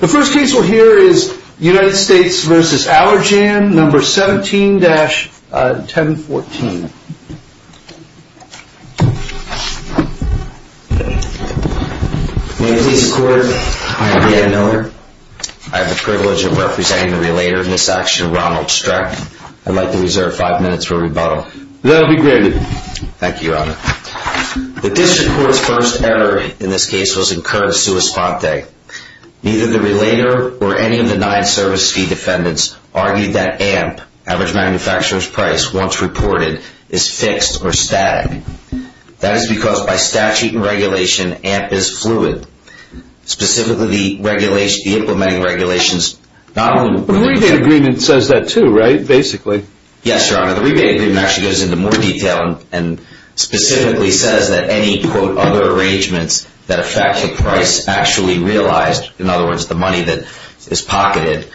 The first case we'll hear is United States v. Allergan, No. 17-1014. May it please the court, I am Dan Miller. I have the privilege of representing the relator in this action, Ronald Streck. I'd like to reserve five minutes for rebuttal. That'll be granted. Thank you, Your Honor. The district court's first error in this case was incurred sua sponte. Neither the relator or any of the nine service fee defendants argued that AMP, average manufacturer's price, once reported, is fixed or static. That is because by statute and regulation, AMP is fluid. Specifically, the implementing regulations... The rebate agreement says that too, right? Basically. Yes, Your Honor. The rebate agreement actually goes into more detail and specifically says that any, quote, other arrangements that affect the price actually realized, in other words, the money that is pocketed,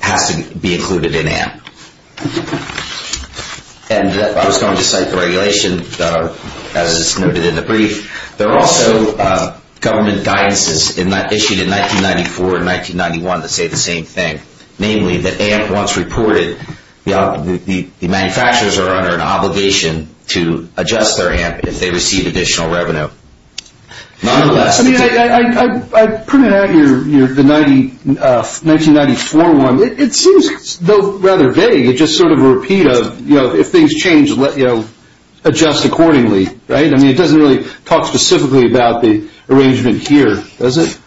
has to be included in AMP. And I was going to cite the regulation as it's noted in the brief. There are also government guidances issued in 1994 and 1991 that say the same thing. Namely, that AMP, once reported, the manufacturers are under an obligation to adjust their AMP if they receive additional revenue. Nonetheless... I mean, I printed out here the 1994 one. It seems, though, rather vague. It's just sort of a repeat of, you know, if things change, adjust accordingly, right? I mean, it doesn't really talk specifically about the arrangement here, does it?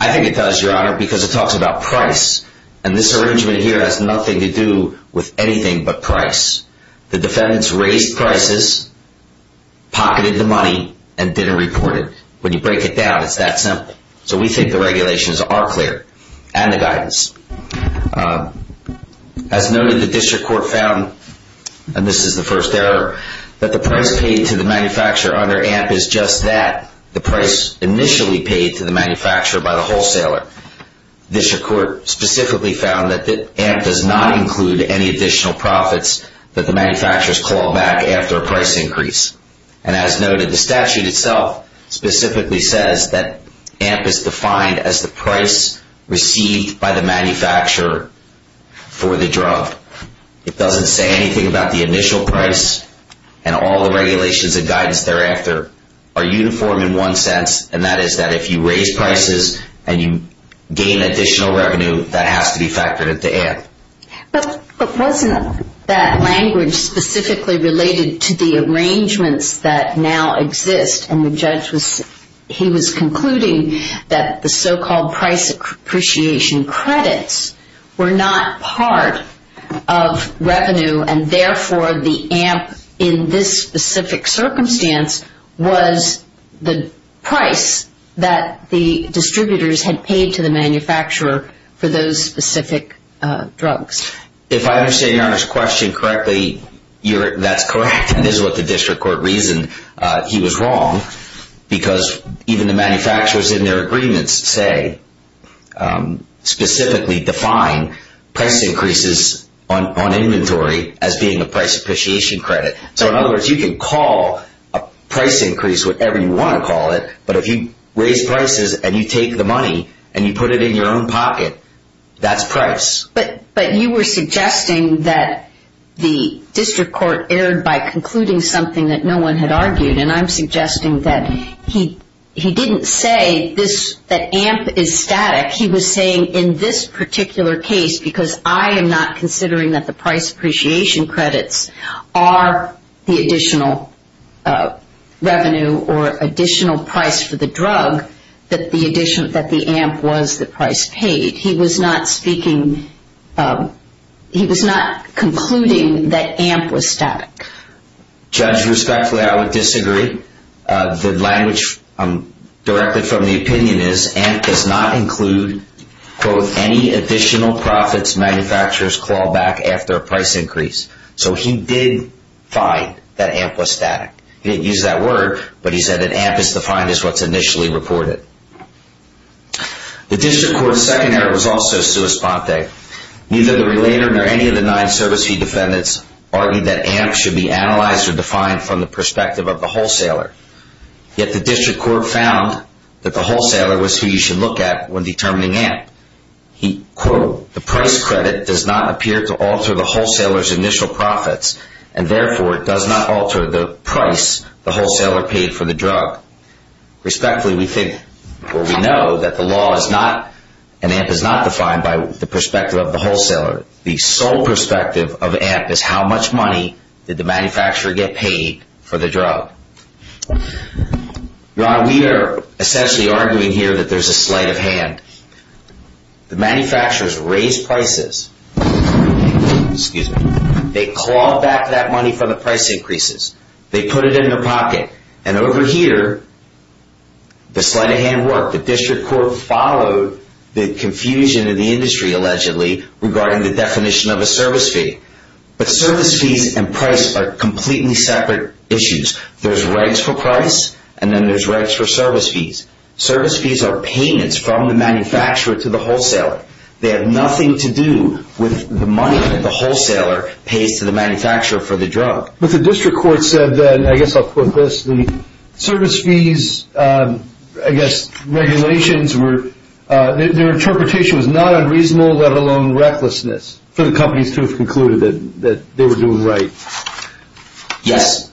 I think it does, Your Honor, because it talks about price. And this arrangement here has nothing to do with anything but price. The defendants raised prices, pocketed the money, and didn't report it. When you break it down, it's that simple. So we think the regulations are clear. And the guidance. As noted, the district court found, and this is the first error, that the price paid to the manufacturer under AMP is just that, the price initially paid to the manufacturer by the wholesaler. The district court specifically found that AMP does not include any additional profits that the manufacturers claw back after a price increase. And as noted, the statute itself specifically says that AMP is defined as the price received by the manufacturer for the drug. It doesn't say anything about the initial price. And all the regulations and guidance thereafter are uniform in one sense, and that is that if you raise prices and you gain additional revenue, that has to be factored into AMP. But wasn't that language specifically related to the arrangements that now exist? And the judge was concluding that the so-called price appreciation credits were not part of revenue, and therefore the AMP in this specific circumstance was the price that the distributors had paid to the manufacturer for those specific drugs. If I understand Your Honor's question correctly, that's correct. And this is what the district court reasoned. He was wrong because even the manufacturers in their agreements, say, specifically define price increases on inventory as being a price appreciation credit. So in other words, you can call a price increase whatever you want to call it, but if you raise prices and you take the money and you put it in your own pocket, that's price. But you were suggesting that the district court erred by concluding something that no one had argued, and I'm suggesting that he didn't say that AMP is static. He was saying in this particular case, because I am not considering that the price appreciation credits are the additional revenue or additional price for the drug, that the AMP was the price paid. He was not concluding that AMP was static. Judge, respectfully, I would disagree. The language directed from the opinion is AMP does not include, quote, any additional profits manufacturers call back after a price increase. So he did find that AMP was static. He didn't use that word, but he said that AMP is defined as what's initially reported. The district court's second error was also sua sponte. Neither the relator nor any of the nine service fee defendants argued that AMP should be analyzed or defined from the perspective of the wholesaler. Yet the district court found that the wholesaler was who you should look at when determining AMP. He, quote, the price credit does not appear to alter the wholesaler's initial profits, and therefore it does not alter the price the wholesaler paid for the drug. Respectfully, we think or we know that the law is not and AMP is not defined by the perspective of the wholesaler. The sole perspective of AMP is how much money did the manufacturer get paid for the drug. Your Honor, we are essentially arguing here that there's a sleight of hand. The manufacturers raise prices. Excuse me. They call back that money for the price increases. They put it in their pocket. And over here, the sleight of hand worked. The district court followed the confusion in the industry, allegedly, regarding the definition of a service fee. But service fees and price are completely separate issues. There's rights for price, and then there's rights for service fees. Service fees are payments from the manufacturer to the wholesaler. They have nothing to do with the money that the wholesaler pays to the manufacturer for the drug. But the district court said that, and I guess I'll quote this, the service fees, I guess, regulations were, their interpretation was not unreasonable, let alone recklessness, for the companies to have concluded that they were doing right. Yes.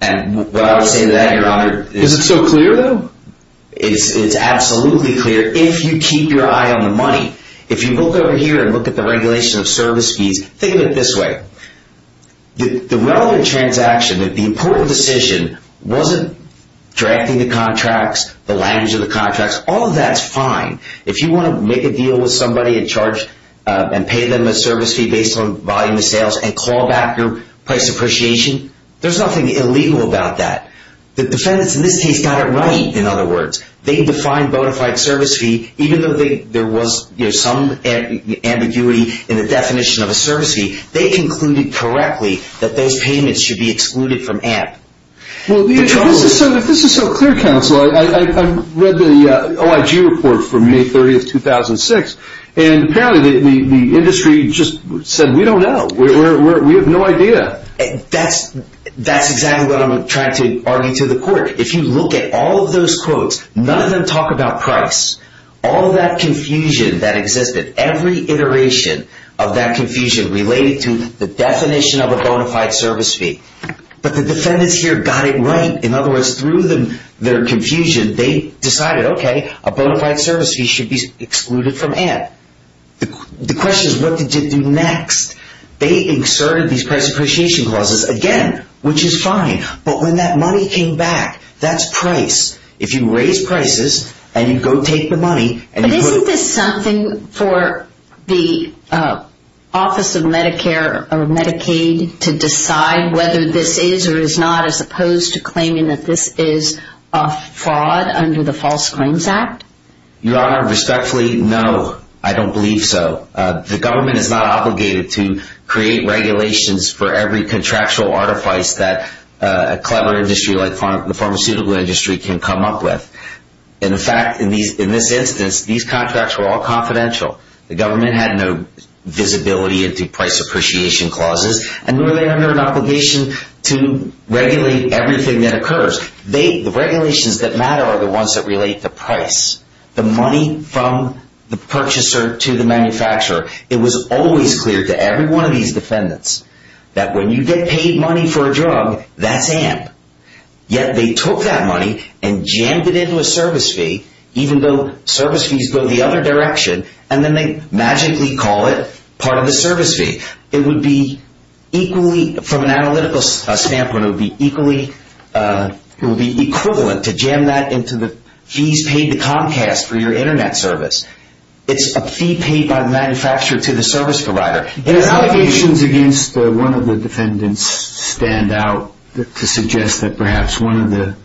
And what I would say to that, Your Honor, is... Is it so clear, though? It's absolutely clear. If you keep your eye on the money, if you look over here and look at the regulation of service fees, think of it this way. The relevant transaction, the important decision, wasn't directing the contracts, the language of the contracts. All of that's fine. If you want to make a deal with somebody and pay them a service fee based on volume of sales and call back your price appreciation, there's nothing illegal about that. The defendants in this case got it right, in other words. They defined bona fide service fee, even though there was some ambiguity in the definition of a service fee. They concluded correctly that those payments should be excluded from AMP. Well, if this is so clear, counsel, I read the OIG report from May 30, 2006, and apparently the industry just said, we don't know. We have no idea. That's exactly what I'm trying to argue to the court. If you look at all of those quotes, none of them talk about price. All of that confusion that existed, every iteration of that confusion related to the definition of a bona fide service fee. But the defendants here got it right. In other words, through their confusion, they decided, okay, a bona fide service fee should be excluded from AMP. The question is, what did you do next? They inserted these price appreciation clauses again, which is fine. But when that money came back, that's price. If you raise prices and you go take the money. But isn't this something for the Office of Medicare or Medicaid to decide whether this is or is not, as opposed to claiming that this is a fraud under the False Claims Act? Your Honor, respectfully, no, I don't believe so. The government is not obligated to create regulations for every contractual artifice that a clever industry like the pharmaceutical industry can come up with. In fact, in this instance, these contracts were all confidential. The government had no visibility into price appreciation clauses. And were they under an obligation to regulate everything that occurs? The regulations that matter are the ones that relate to price. The money from the purchaser to the manufacturer. It was always clear to every one of these defendants that when you get paid money for a drug, that's AMP. Yet they took that money and jammed it into a service fee, even though service fees go the other direction, and then they magically call it part of the service fee. From an analytical standpoint, it would be equivalent to jam that into the fees paid to Comcast for your Internet service. It's a fee paid by the manufacturer to the service provider. Allegations against one of the defendants stand out to suggest that perhaps one of the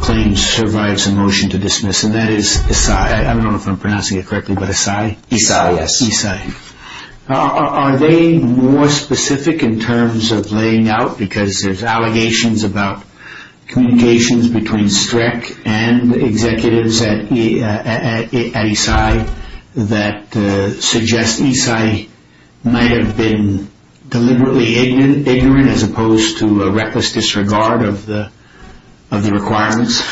claims survives a motion to dismiss, and that is Esai. I don't know if I'm pronouncing it correctly, but Esai? Esai, yes. Esai. Are they more specific in terms of laying out? Because there's allegations about communications between Streck and the executives at Esai that suggest Esai might have been deliberately ignorant as opposed to a reckless disregard of the requirements.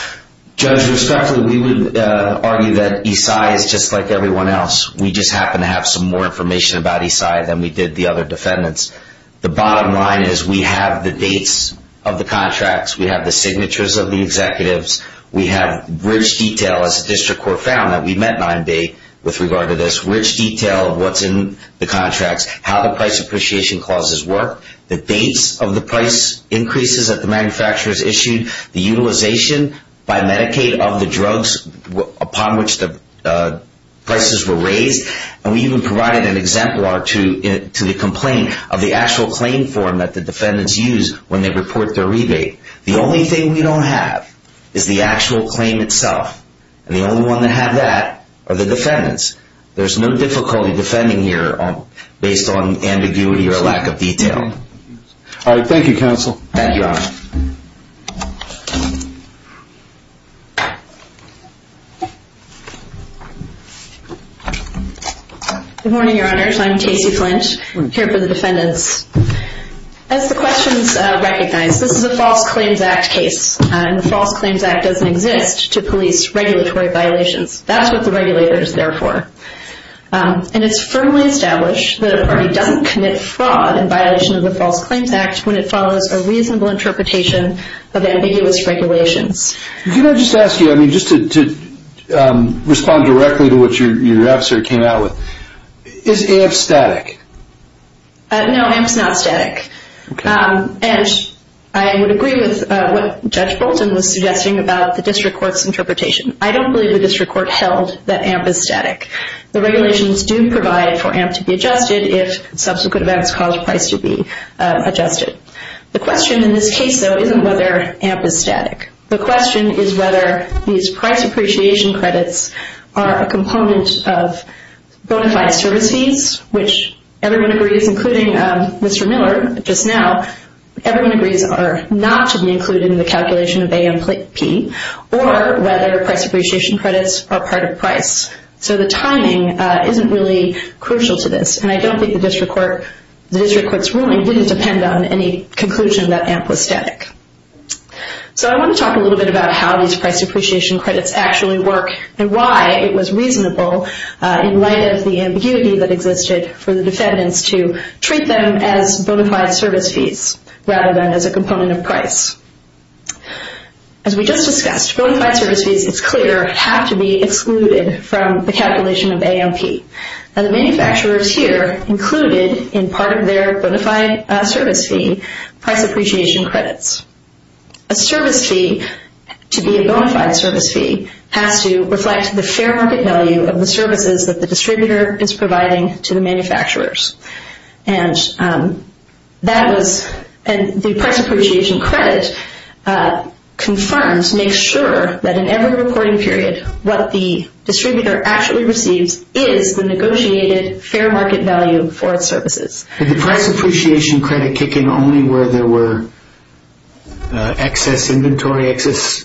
Judge, respectfully, we would argue that Esai is just like everyone else. We just happen to have some more information about Esai than we did the other defendants. The bottom line is we have the dates of the contracts. We have the signatures of the executives. We have rich detail, as the district court found, that we met nine-day with regard to this, rich detail of what's in the contracts, how the price appreciation clauses work, the dates of the price increases that the manufacturers issued, the utilization by Medicaid of the drugs upon which the prices were raised, and we even provided an exemplar to the complaint of the actual claim form that the defendants use when they report their rebate. The only thing we don't have is the actual claim itself, and the only one that had that are the defendants. There's no difficulty defending here based on ambiguity or lack of detail. All right. Thank you, counsel. Thank you, Your Honor. Good morning, Your Honors. I'm Casey Flint, here for the defendants. As the questions recognize, this is a False Claims Act case, and the False Claims Act doesn't exist to police regulatory violations. That's what the regulator is there for. And it's firmly established that a party doesn't commit fraud in violation of the False Claims Act when it follows a reasonable interpretation of ambiguous regulations. Can I just ask you, I mean, just to respond directly to what your adversary came out with, is AMP static? No, AMP's not static. And I would agree with what Judge Bolton was suggesting about the district court's interpretation. I don't believe the district court held that AMP is static. The regulations do provide for AMP to be adjusted if subsequent events cause price to be adjusted. The question in this case, though, isn't whether AMP is static. The question is whether these price appreciation credits are a component of bona fide service fees, which everyone agrees, including Mr. Miller just now, everyone agrees are not to be included in the calculation of AMP, or whether price appreciation credits are part of price. So the timing isn't really crucial to this. And I don't think the district court's ruling didn't depend on any conclusion that AMP was static. So I want to talk a little bit about how these price appreciation credits actually work and why it was reasonable in light of the ambiguity that existed for the defendants to treat them as bona fide service fees rather than as a component of price. As we just discussed, bona fide service fees, it's clear, have to be excluded from the calculation of AMP. And the manufacturers here included in part of their bona fide service fee price appreciation credits. A service fee, to be a bona fide service fee, has to reflect the fair market value of the services that the distributor is providing to the manufacturers. And the price appreciation credit confirms, makes sure, that in every reporting period, what the distributor actually receives is the negotiated fair market value for its services. Did the price appreciation credit kick in only where there were excess inventory, excess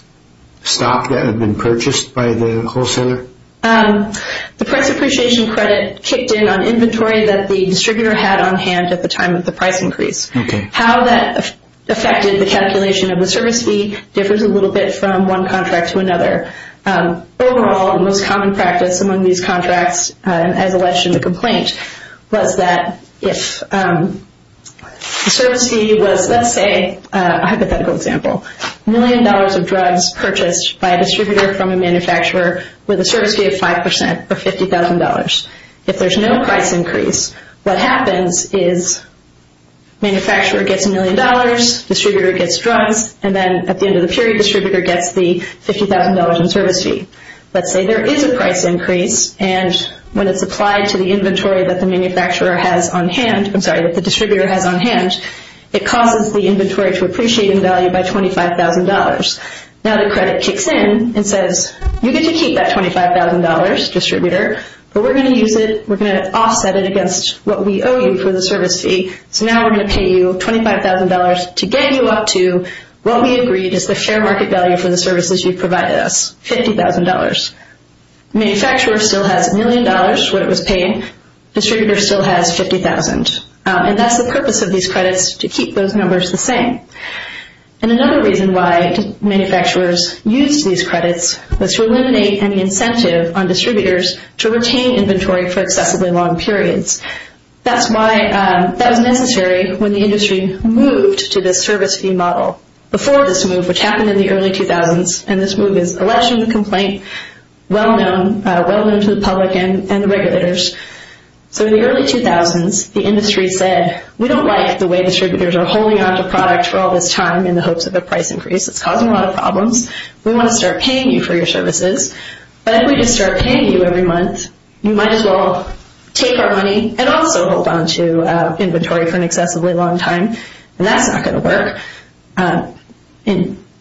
stock that had been purchased by the wholesaler? The price appreciation credit kicked in on inventory that the distributor had on hand at the time of the price increase. How that affected the calculation of the service fee differs a little bit from one contract to another. Overall, the most common practice among these contracts, as alleged in the complaint, was that if the service fee was, let's say, a hypothetical example, a million dollars of drugs purchased by a distributor from a manufacturer with a service fee of 5% or $50,000. If there's no price increase, what happens is manufacturer gets a million dollars, distributor gets drugs, and then at the end of the period distributor gets the $50,000 in service fee. Let's say there is a price increase, and when it's applied to the inventory that the manufacturer has on hand, it causes the inventory to appreciate in value by $25,000. Now the credit kicks in and says, you get to keep that $25,000, distributor, but we're going to use it, we're going to offset it against what we owe you for the service fee, so now we're going to pay you $25,000 to get you up to what we agreed is the fair market value for the services you've provided us, $50,000. Manufacturer still has a million dollars, what it was paying, distributor still has $50,000. And that's the purpose of these credits, to keep those numbers the same. And another reason why manufacturers used these credits was to eliminate any incentive on distributors to retain inventory for excessively long periods. That was necessary when the industry moved to this service fee model. Before this move, which happened in the early 2000s, and this move is election complaint, well known to the public and the regulators. So in the early 2000s, the industry said, we don't like the way distributors are holding onto product for all this time in the hopes of a price increase, it's causing a lot of problems, we want to start paying you for your services, but if we just start paying you every month, you might as well take our money and also hold onto inventory for an excessively long time, and that's not going to work.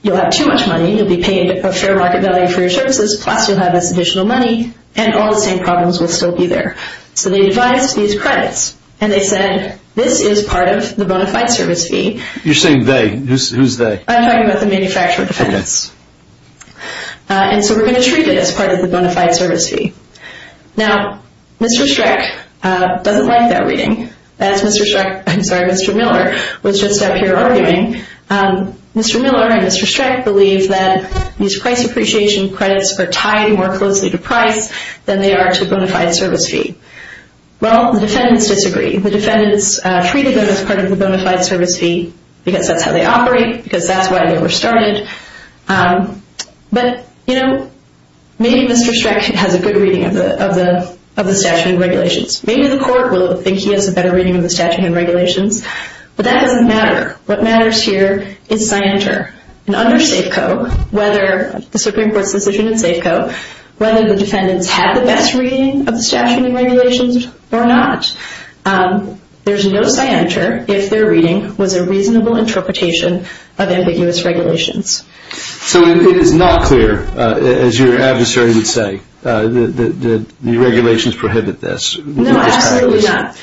You'll have too much money, you'll be paying a fair market value for your services, plus you'll have this additional money, and all the same problems will still be there. So they devised these credits, and they said, this is part of the bona fide service fee. You're saying they, who's they? I'm talking about the manufacturer defendants. And so we're going to treat it as part of the bona fide service fee. Now, Mr. Streck doesn't like that reading. That's Mr. Streck, I'm sorry, Mr. Miller, was just out here arguing. Mr. Miller and Mr. Streck believe that these price appreciation credits are tied more closely to price than they are to bona fide service fee. Well, the defendants disagree. The defendants treated them as part of the bona fide service fee because that's how they operate, because that's why they were started. But, you know, maybe Mr. Streck has a good reading of the statute and regulations. Maybe the court will think he has a better reading of the statute and regulations, but that doesn't matter. What matters here is scienter. And under Safeco, whether the Supreme Court's decision in Safeco, whether the defendants had the best reading of the statute and regulations or not, there's no scienter if their reading was a reasonable interpretation of ambiguous regulations. So it is not clear, as your adversary would say, that the regulations prohibit this. No, absolutely not.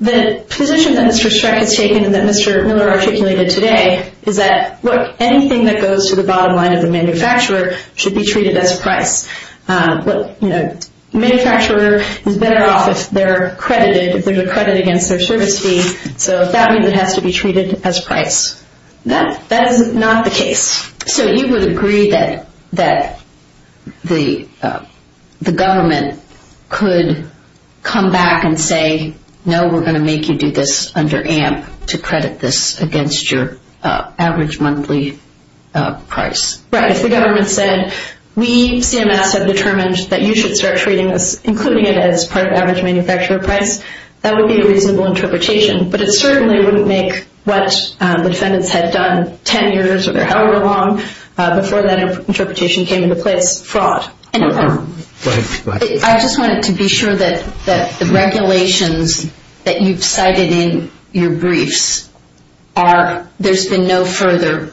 The position that Mr. Streck has taken and that Mr. Miller articulated today is that anything that goes to the bottom line of the manufacturer should be treated as price. The manufacturer is better off if they're credited, if there's a credit against their service fee. So if that means it has to be treated as price, that is not the case. So you would agree that the government could come back and say, no, we're going to make you do this under AMP to credit this against your average monthly price. Right. If the government said, we, CMS, have determined that you should start treating this, including it as part of average manufacturer price, that would be a reasonable interpretation. But it certainly wouldn't make what the defendants had done 10 years or however long before that interpretation came into place, fraud. Go ahead. I just wanted to be sure that the regulations that you've cited in your briefs are, there's been no further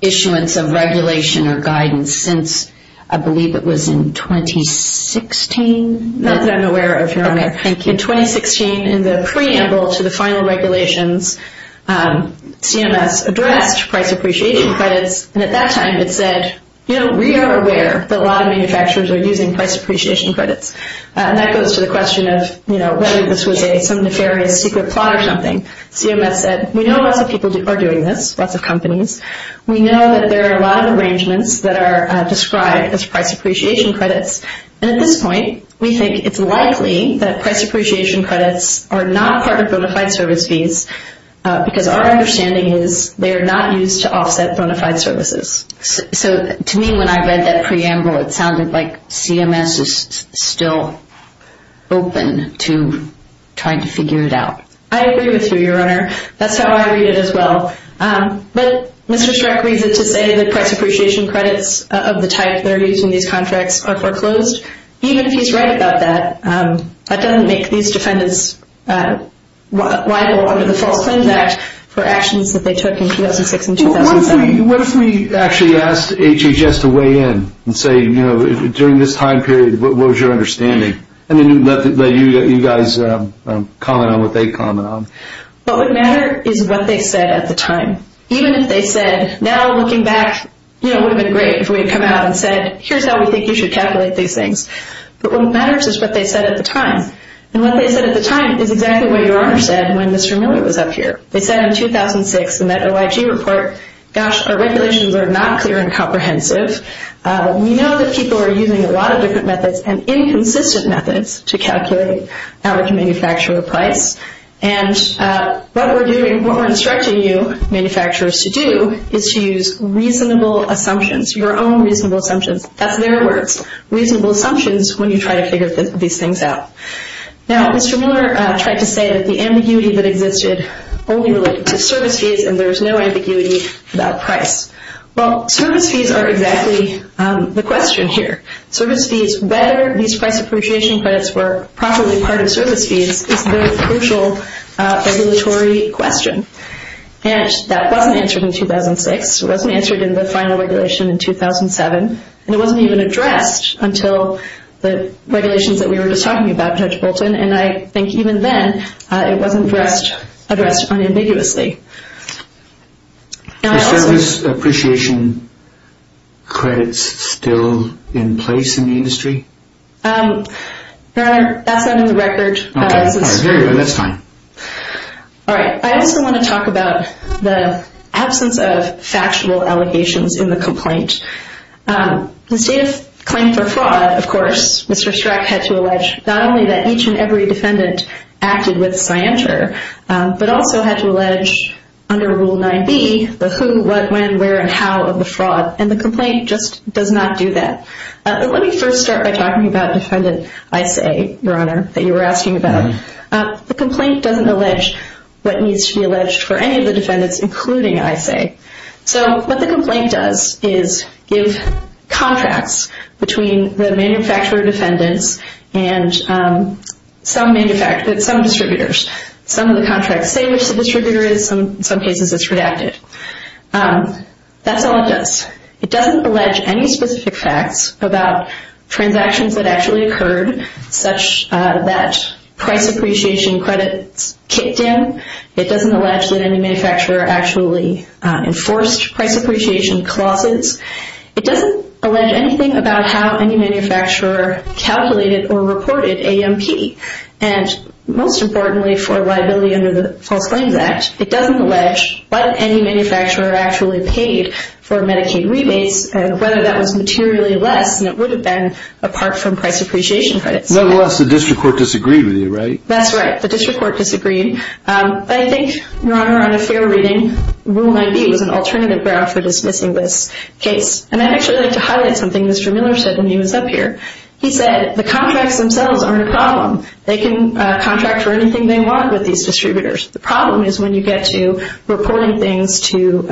issuance of regulation or guidance since, I believe it was in 2016? Not that I'm aware of, Your Honor. Okay, thank you. In 2016, in the preamble to the final regulations, CMS addressed price appreciation credits, and at that time it said, we are aware that a lot of manufacturers are using price appreciation credits. And that goes to the question of whether this was some nefarious secret plot or something. CMS said, we know lots of people are doing this, lots of companies. We know that there are a lot of arrangements that are described as price appreciation credits, and at this point, we think it's likely that price appreciation credits are not part of bona fide service fees because our understanding is they are not used to offset bona fide services. So to me, when I read that preamble, it sounded like CMS is still open to trying to figure it out. I agree with you, Your Honor. That's how I read it as well. But Mr. Strzok reads it to say that price appreciation credits of the type that are used in these contracts are foreclosed. Even if he's right about that, that doesn't make these defendants liable under the False Claims Act for actions that they took in 2006 and 2007. What if we actually asked HHS to weigh in and say, during this time period, what was your understanding? And then let you guys comment on what they comment on. What would matter is what they said at the time. Even if they said, now looking back, it would have been great if we had come out and said, here's how we think you should calculate these things. But what matters is what they said at the time. And what they said at the time is exactly what Your Honor said when Mr. Miller was up here. They said in 2006 in that OIG report, gosh, our regulations are not clear and comprehensive. We know that people are using a lot of different methods and inconsistent methods to calculate average manufacturer price. And what we're instructing you manufacturers to do is to use reasonable assumptions, your own reasonable assumptions. That's their words, reasonable assumptions when you try to figure these things out. Now, Mr. Miller tried to say that the ambiguity that existed only related to service fees and there was no ambiguity about price. Well, service fees are exactly the question here. Service fees, whether these price appreciation credits were properly part of service fees, is the crucial regulatory question. And that wasn't answered in 2006. It wasn't answered in the final regulation in 2007. And it wasn't even addressed until the regulations that we were just talking about, Judge Bolton. And I think even then it wasn't addressed unambiguously. Are service appreciation credits still in place in the industry? Your Honor, that's not in the record. All right, very well, that's fine. All right, I also want to talk about the absence of factual allegations in the complaint. The state of claim for fraud, of course, Mr. Strzok had to allege not only that each and every defendant acted with scienter, but also had to allege under Rule 9b the who, what, when, where, and how of the fraud. And the complaint just does not do that. Let me first start by talking about Defendant Isay, Your Honor, that you were asking about. The complaint doesn't allege what needs to be alleged for any of the defendants, including Isay. So what the complaint does is give contracts between the manufacturer defendants and some distributors. Some of the contracts say which the distributor is. In some cases it's redacted. That's all it does. It doesn't allege any specific facts about transactions that actually occurred such that price appreciation credits kicked in. It doesn't allege that any manufacturer actually enforced price appreciation clauses. It doesn't allege anything about how any manufacturer calculated or reported AMP. And most importantly for liability under the False Claims Act, it doesn't allege what any manufacturer actually paid for Medicaid rebates and whether that was materially less than it would have been apart from price appreciation credits. Nevertheless, the district court disagreed with you, right? That's right. The district court disagreed. I think, Your Honor, on a fair reading, Rule 9b was an alternative ground for dismissing this case. And I'd actually like to highlight something Mr. Miller said when he was up here. He said the contracts themselves aren't a problem. They can contract for anything they want with these distributors. The problem is when you get to reporting things to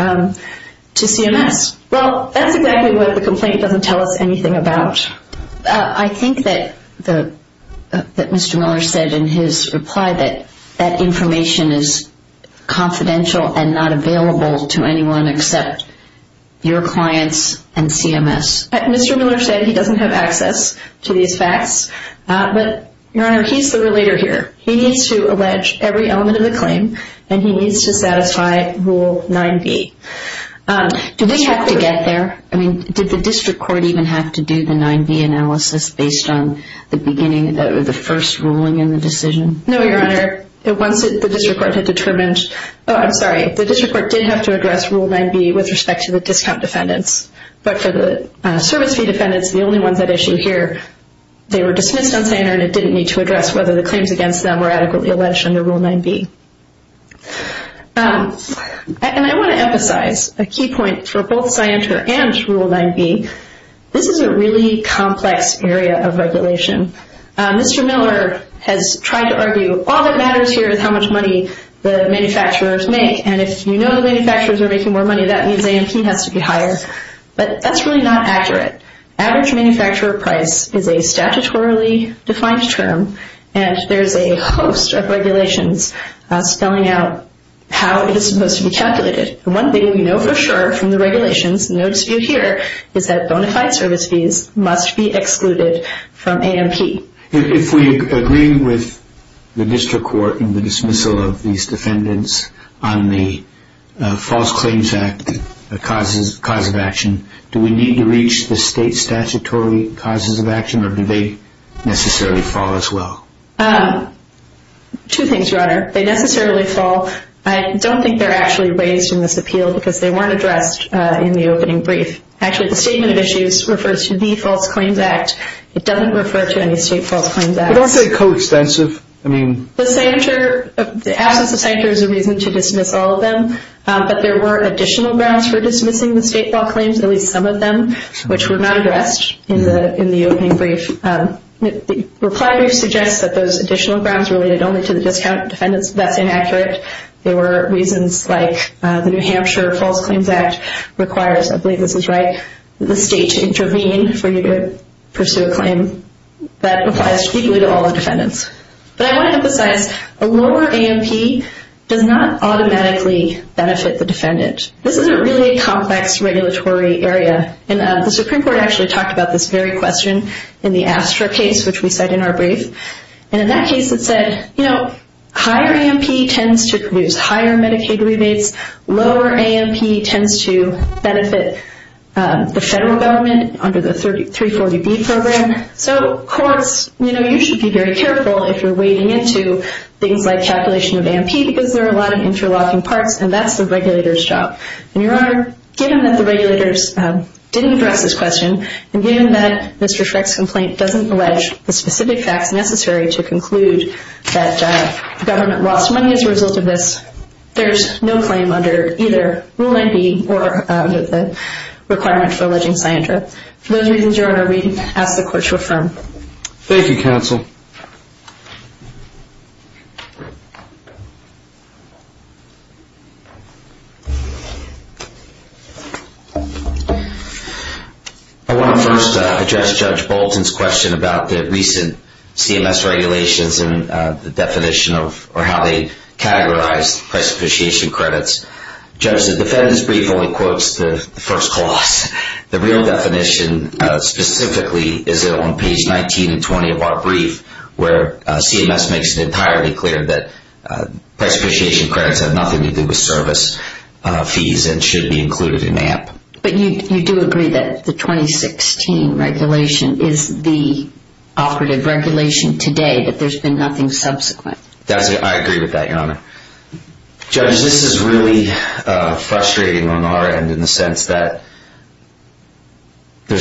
CMS. Well, that's exactly what the complaint doesn't tell us anything about. I think that Mr. Miller said in his reply that that information is confidential and not available to anyone except your clients and CMS. Mr. Miller said he doesn't have access to these facts. But, Your Honor, he's the relator here. He needs to allege every element of the claim and he needs to satisfy Rule 9b. Did they have to get there? I mean, did the district court even have to do the 9b analysis based on the beginning, the first ruling in the decision? No, Your Honor. Once the district court had determined, oh, I'm sorry, the district court did have to address Rule 9b with respect to the discount defendants. But for the service fee defendants, the only ones at issue here, they were dismissed on Sanger and it didn't need to address whether the claims against them were adequately alleged under Rule 9b. And I want to emphasize a key point for both Sanger and Rule 9b. This is a really complex area of regulation. Mr. Miller has tried to argue all that matters here is how much money the manufacturers make. And if you know the manufacturers are making more money, that means A&P has to be higher. But that's really not accurate. Average manufacturer price is a statutorily defined term and there's a host of regulations spelling out how it is supposed to be calculated. One thing we know for sure from the regulations, no dispute here, is that bona fide service fees must be excluded from A&P. If we agree with the district court in the dismissal of these defendants on the false claims act cause of action, do they necessarily fall as well? Two things, Your Honor. They necessarily fall. I don't think they're actually raised in this appeal because they weren't addressed in the opening brief. Actually, the statement of issues refers to the false claims act. It doesn't refer to any state false claims act. But aren't they coextensive? The absence of Sanger is a reason to dismiss all of them. But there were additional grounds for dismissing the state law claims, at least some of them, which were not addressed in the opening brief. The reply brief suggests that those additional grounds related only to the discount defendants. That's inaccurate. There were reasons like the New Hampshire False Claims Act requires, I believe this is right, the state to intervene for you to pursue a claim. That applies equally to all the defendants. But I want to emphasize a lower A&P does not automatically benefit the defendant. This is a really complex regulatory area. The Supreme Court actually talked about this very question in the Astra case, which we cite in our brief. In that case, it said higher A&P tends to produce higher Medicaid rebates. Lower A&P tends to benefit the federal government under the 340B program. So courts, you should be very careful if you're wading into things like calculation of A&P because there are a lot of interlocking parts, and that's the regulator's job. And, Your Honor, given that the regulators didn't address this question and given that Mr. Freck's complaint doesn't allege the specific facts necessary to conclude that the government lost money as a result of this, there's no claim under either Rule 9B or the requirement for alleging scientra. For those reasons, Your Honor, we ask the Court to affirm. Thank you, counsel. I want to first address Judge Bolton's question about the recent CMS regulations and the definition of or how they categorize price appreciation credits. Judge, the defendant's brief only quotes the first clause. The real definition specifically is on page 19 and 20 of our brief where CMS makes it entirely clear that price appreciation credits have nothing to do with service fees and should be included in A&P. But you do agree that the 2016 regulation is the operative regulation today, but there's been nothing subsequent. I agree with that, Your Honor. Judge, this is really frustrating on our end in the sense that it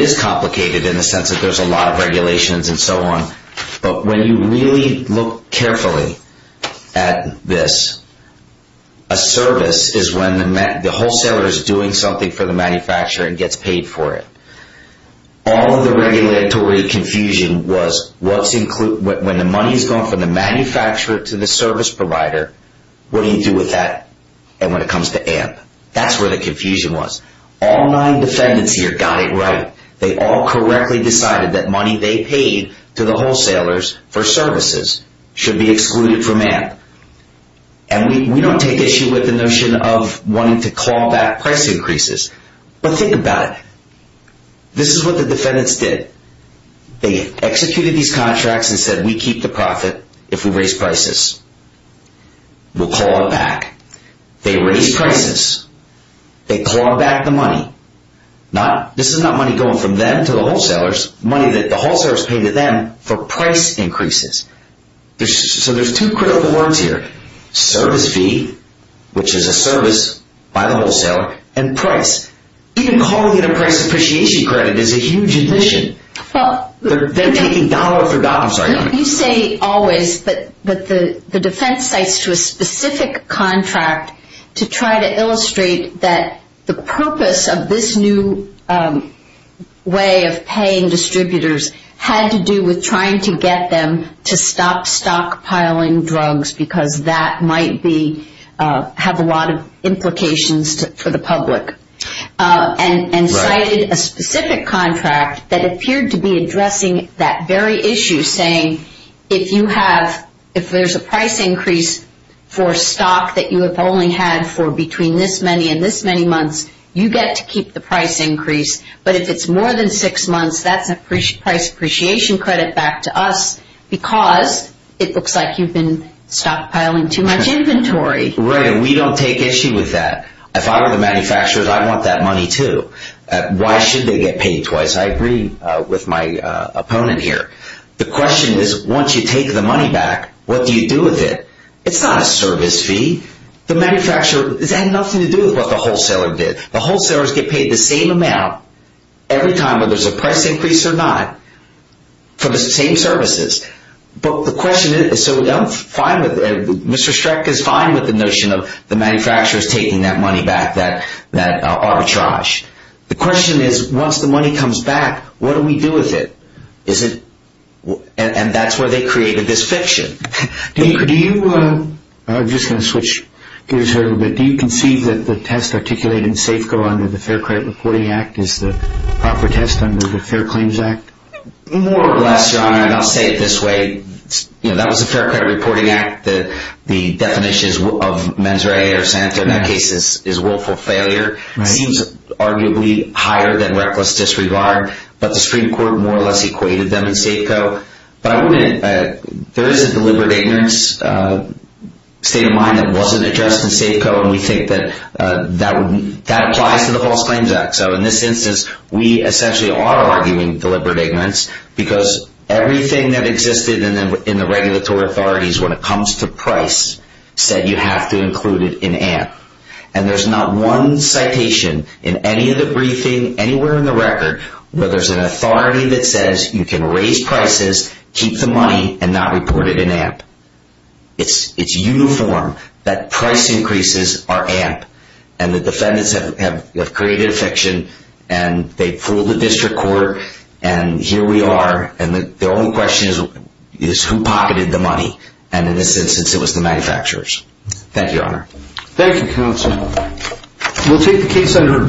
is complicated in the sense that there's a lot of regulations and so on. But when you really look carefully at this, a service is when the wholesaler is doing something for the manufacturer and gets paid for it. All of the regulatory confusion was when the money is going from the manufacturer to the service provider, what do you do with that? And when it comes to A&P, that's where the confusion was. All nine defendants here got it right. They all correctly decided that money they paid to the wholesalers for services should be excluded from A&P. And we don't take issue with the notion of wanting to claw back price increases. But think about it. This is what the defendants did. They executed these contracts and said, we keep the profit if we raise prices. We'll claw it back. They raised prices. They clawed back the money. This is not money going from them to the wholesalers, money that the wholesalers paid to them for price increases. So there's two critical words here. Service fee, which is a service by the wholesaler, and price. Even calling it a price appreciation credit is a huge admission. They're taking dollar for dollar. You say always that the defense cites to a specific contract to try to illustrate that the purpose of this new way of paying distributors had to do with trying to get them to stop stockpiling drugs because that might have a lot of implications for the public. And cited a specific contract that appeared to be addressing that very issue, saying if there's a price increase for stock that you have only had for between this many and this many months, you get to keep the price increase. But if it's more than six months, that's a price appreciation credit back to us because it looks like you've been stockpiling too much inventory. Right, and we don't take issue with that. If I were the manufacturers, I'd want that money too. Why should they get paid twice? I agree with my opponent here. The question is once you take the money back, what do you do with it? It's not a service fee. The manufacturer has had nothing to do with what the wholesaler did. The wholesalers get paid the same amount every time whether there's a price increase or not for the same services. But the question is so we don't find that Mr. Streck is fine with the notion of the manufacturers taking that money back, that arbitrage. The question is once the money comes back, what do we do with it? And that's where they created this fiction. I'm just going to switch gears here a little bit. Do you conceive that the test articulated in SAFECO under the Fair Credit Reporting Act is the proper test under the Fair Claims Act? More or less, Your Honor, and I'll say it this way. That was the Fair Credit Reporting Act. The definition of mens rea or santo in that case is willful failure. It seems arguably higher than reckless disregard, but the Supreme Court more or less equated them in SAFECO. There is a deliberate ignorance state of mind that wasn't addressed in SAFECO, and we think that that applies to the False Claims Act. So in this instance, we essentially are arguing deliberate ignorance because everything that existed in the regulatory authorities when it comes to price said you have to include it in AMP. And there's not one citation in any of the briefing, anywhere in the record, where there's an authority that says you can raise prices, keep the money, and not report it in AMP. It's uniform that price increases are AMP, and the defendants have created a fiction, and they fooled the district court, and here we are, and the only question is who pocketed the money. And in this instance, it was the manufacturers. Thank you, Your Honor. Thank you, Counsel. We'll take the case under review.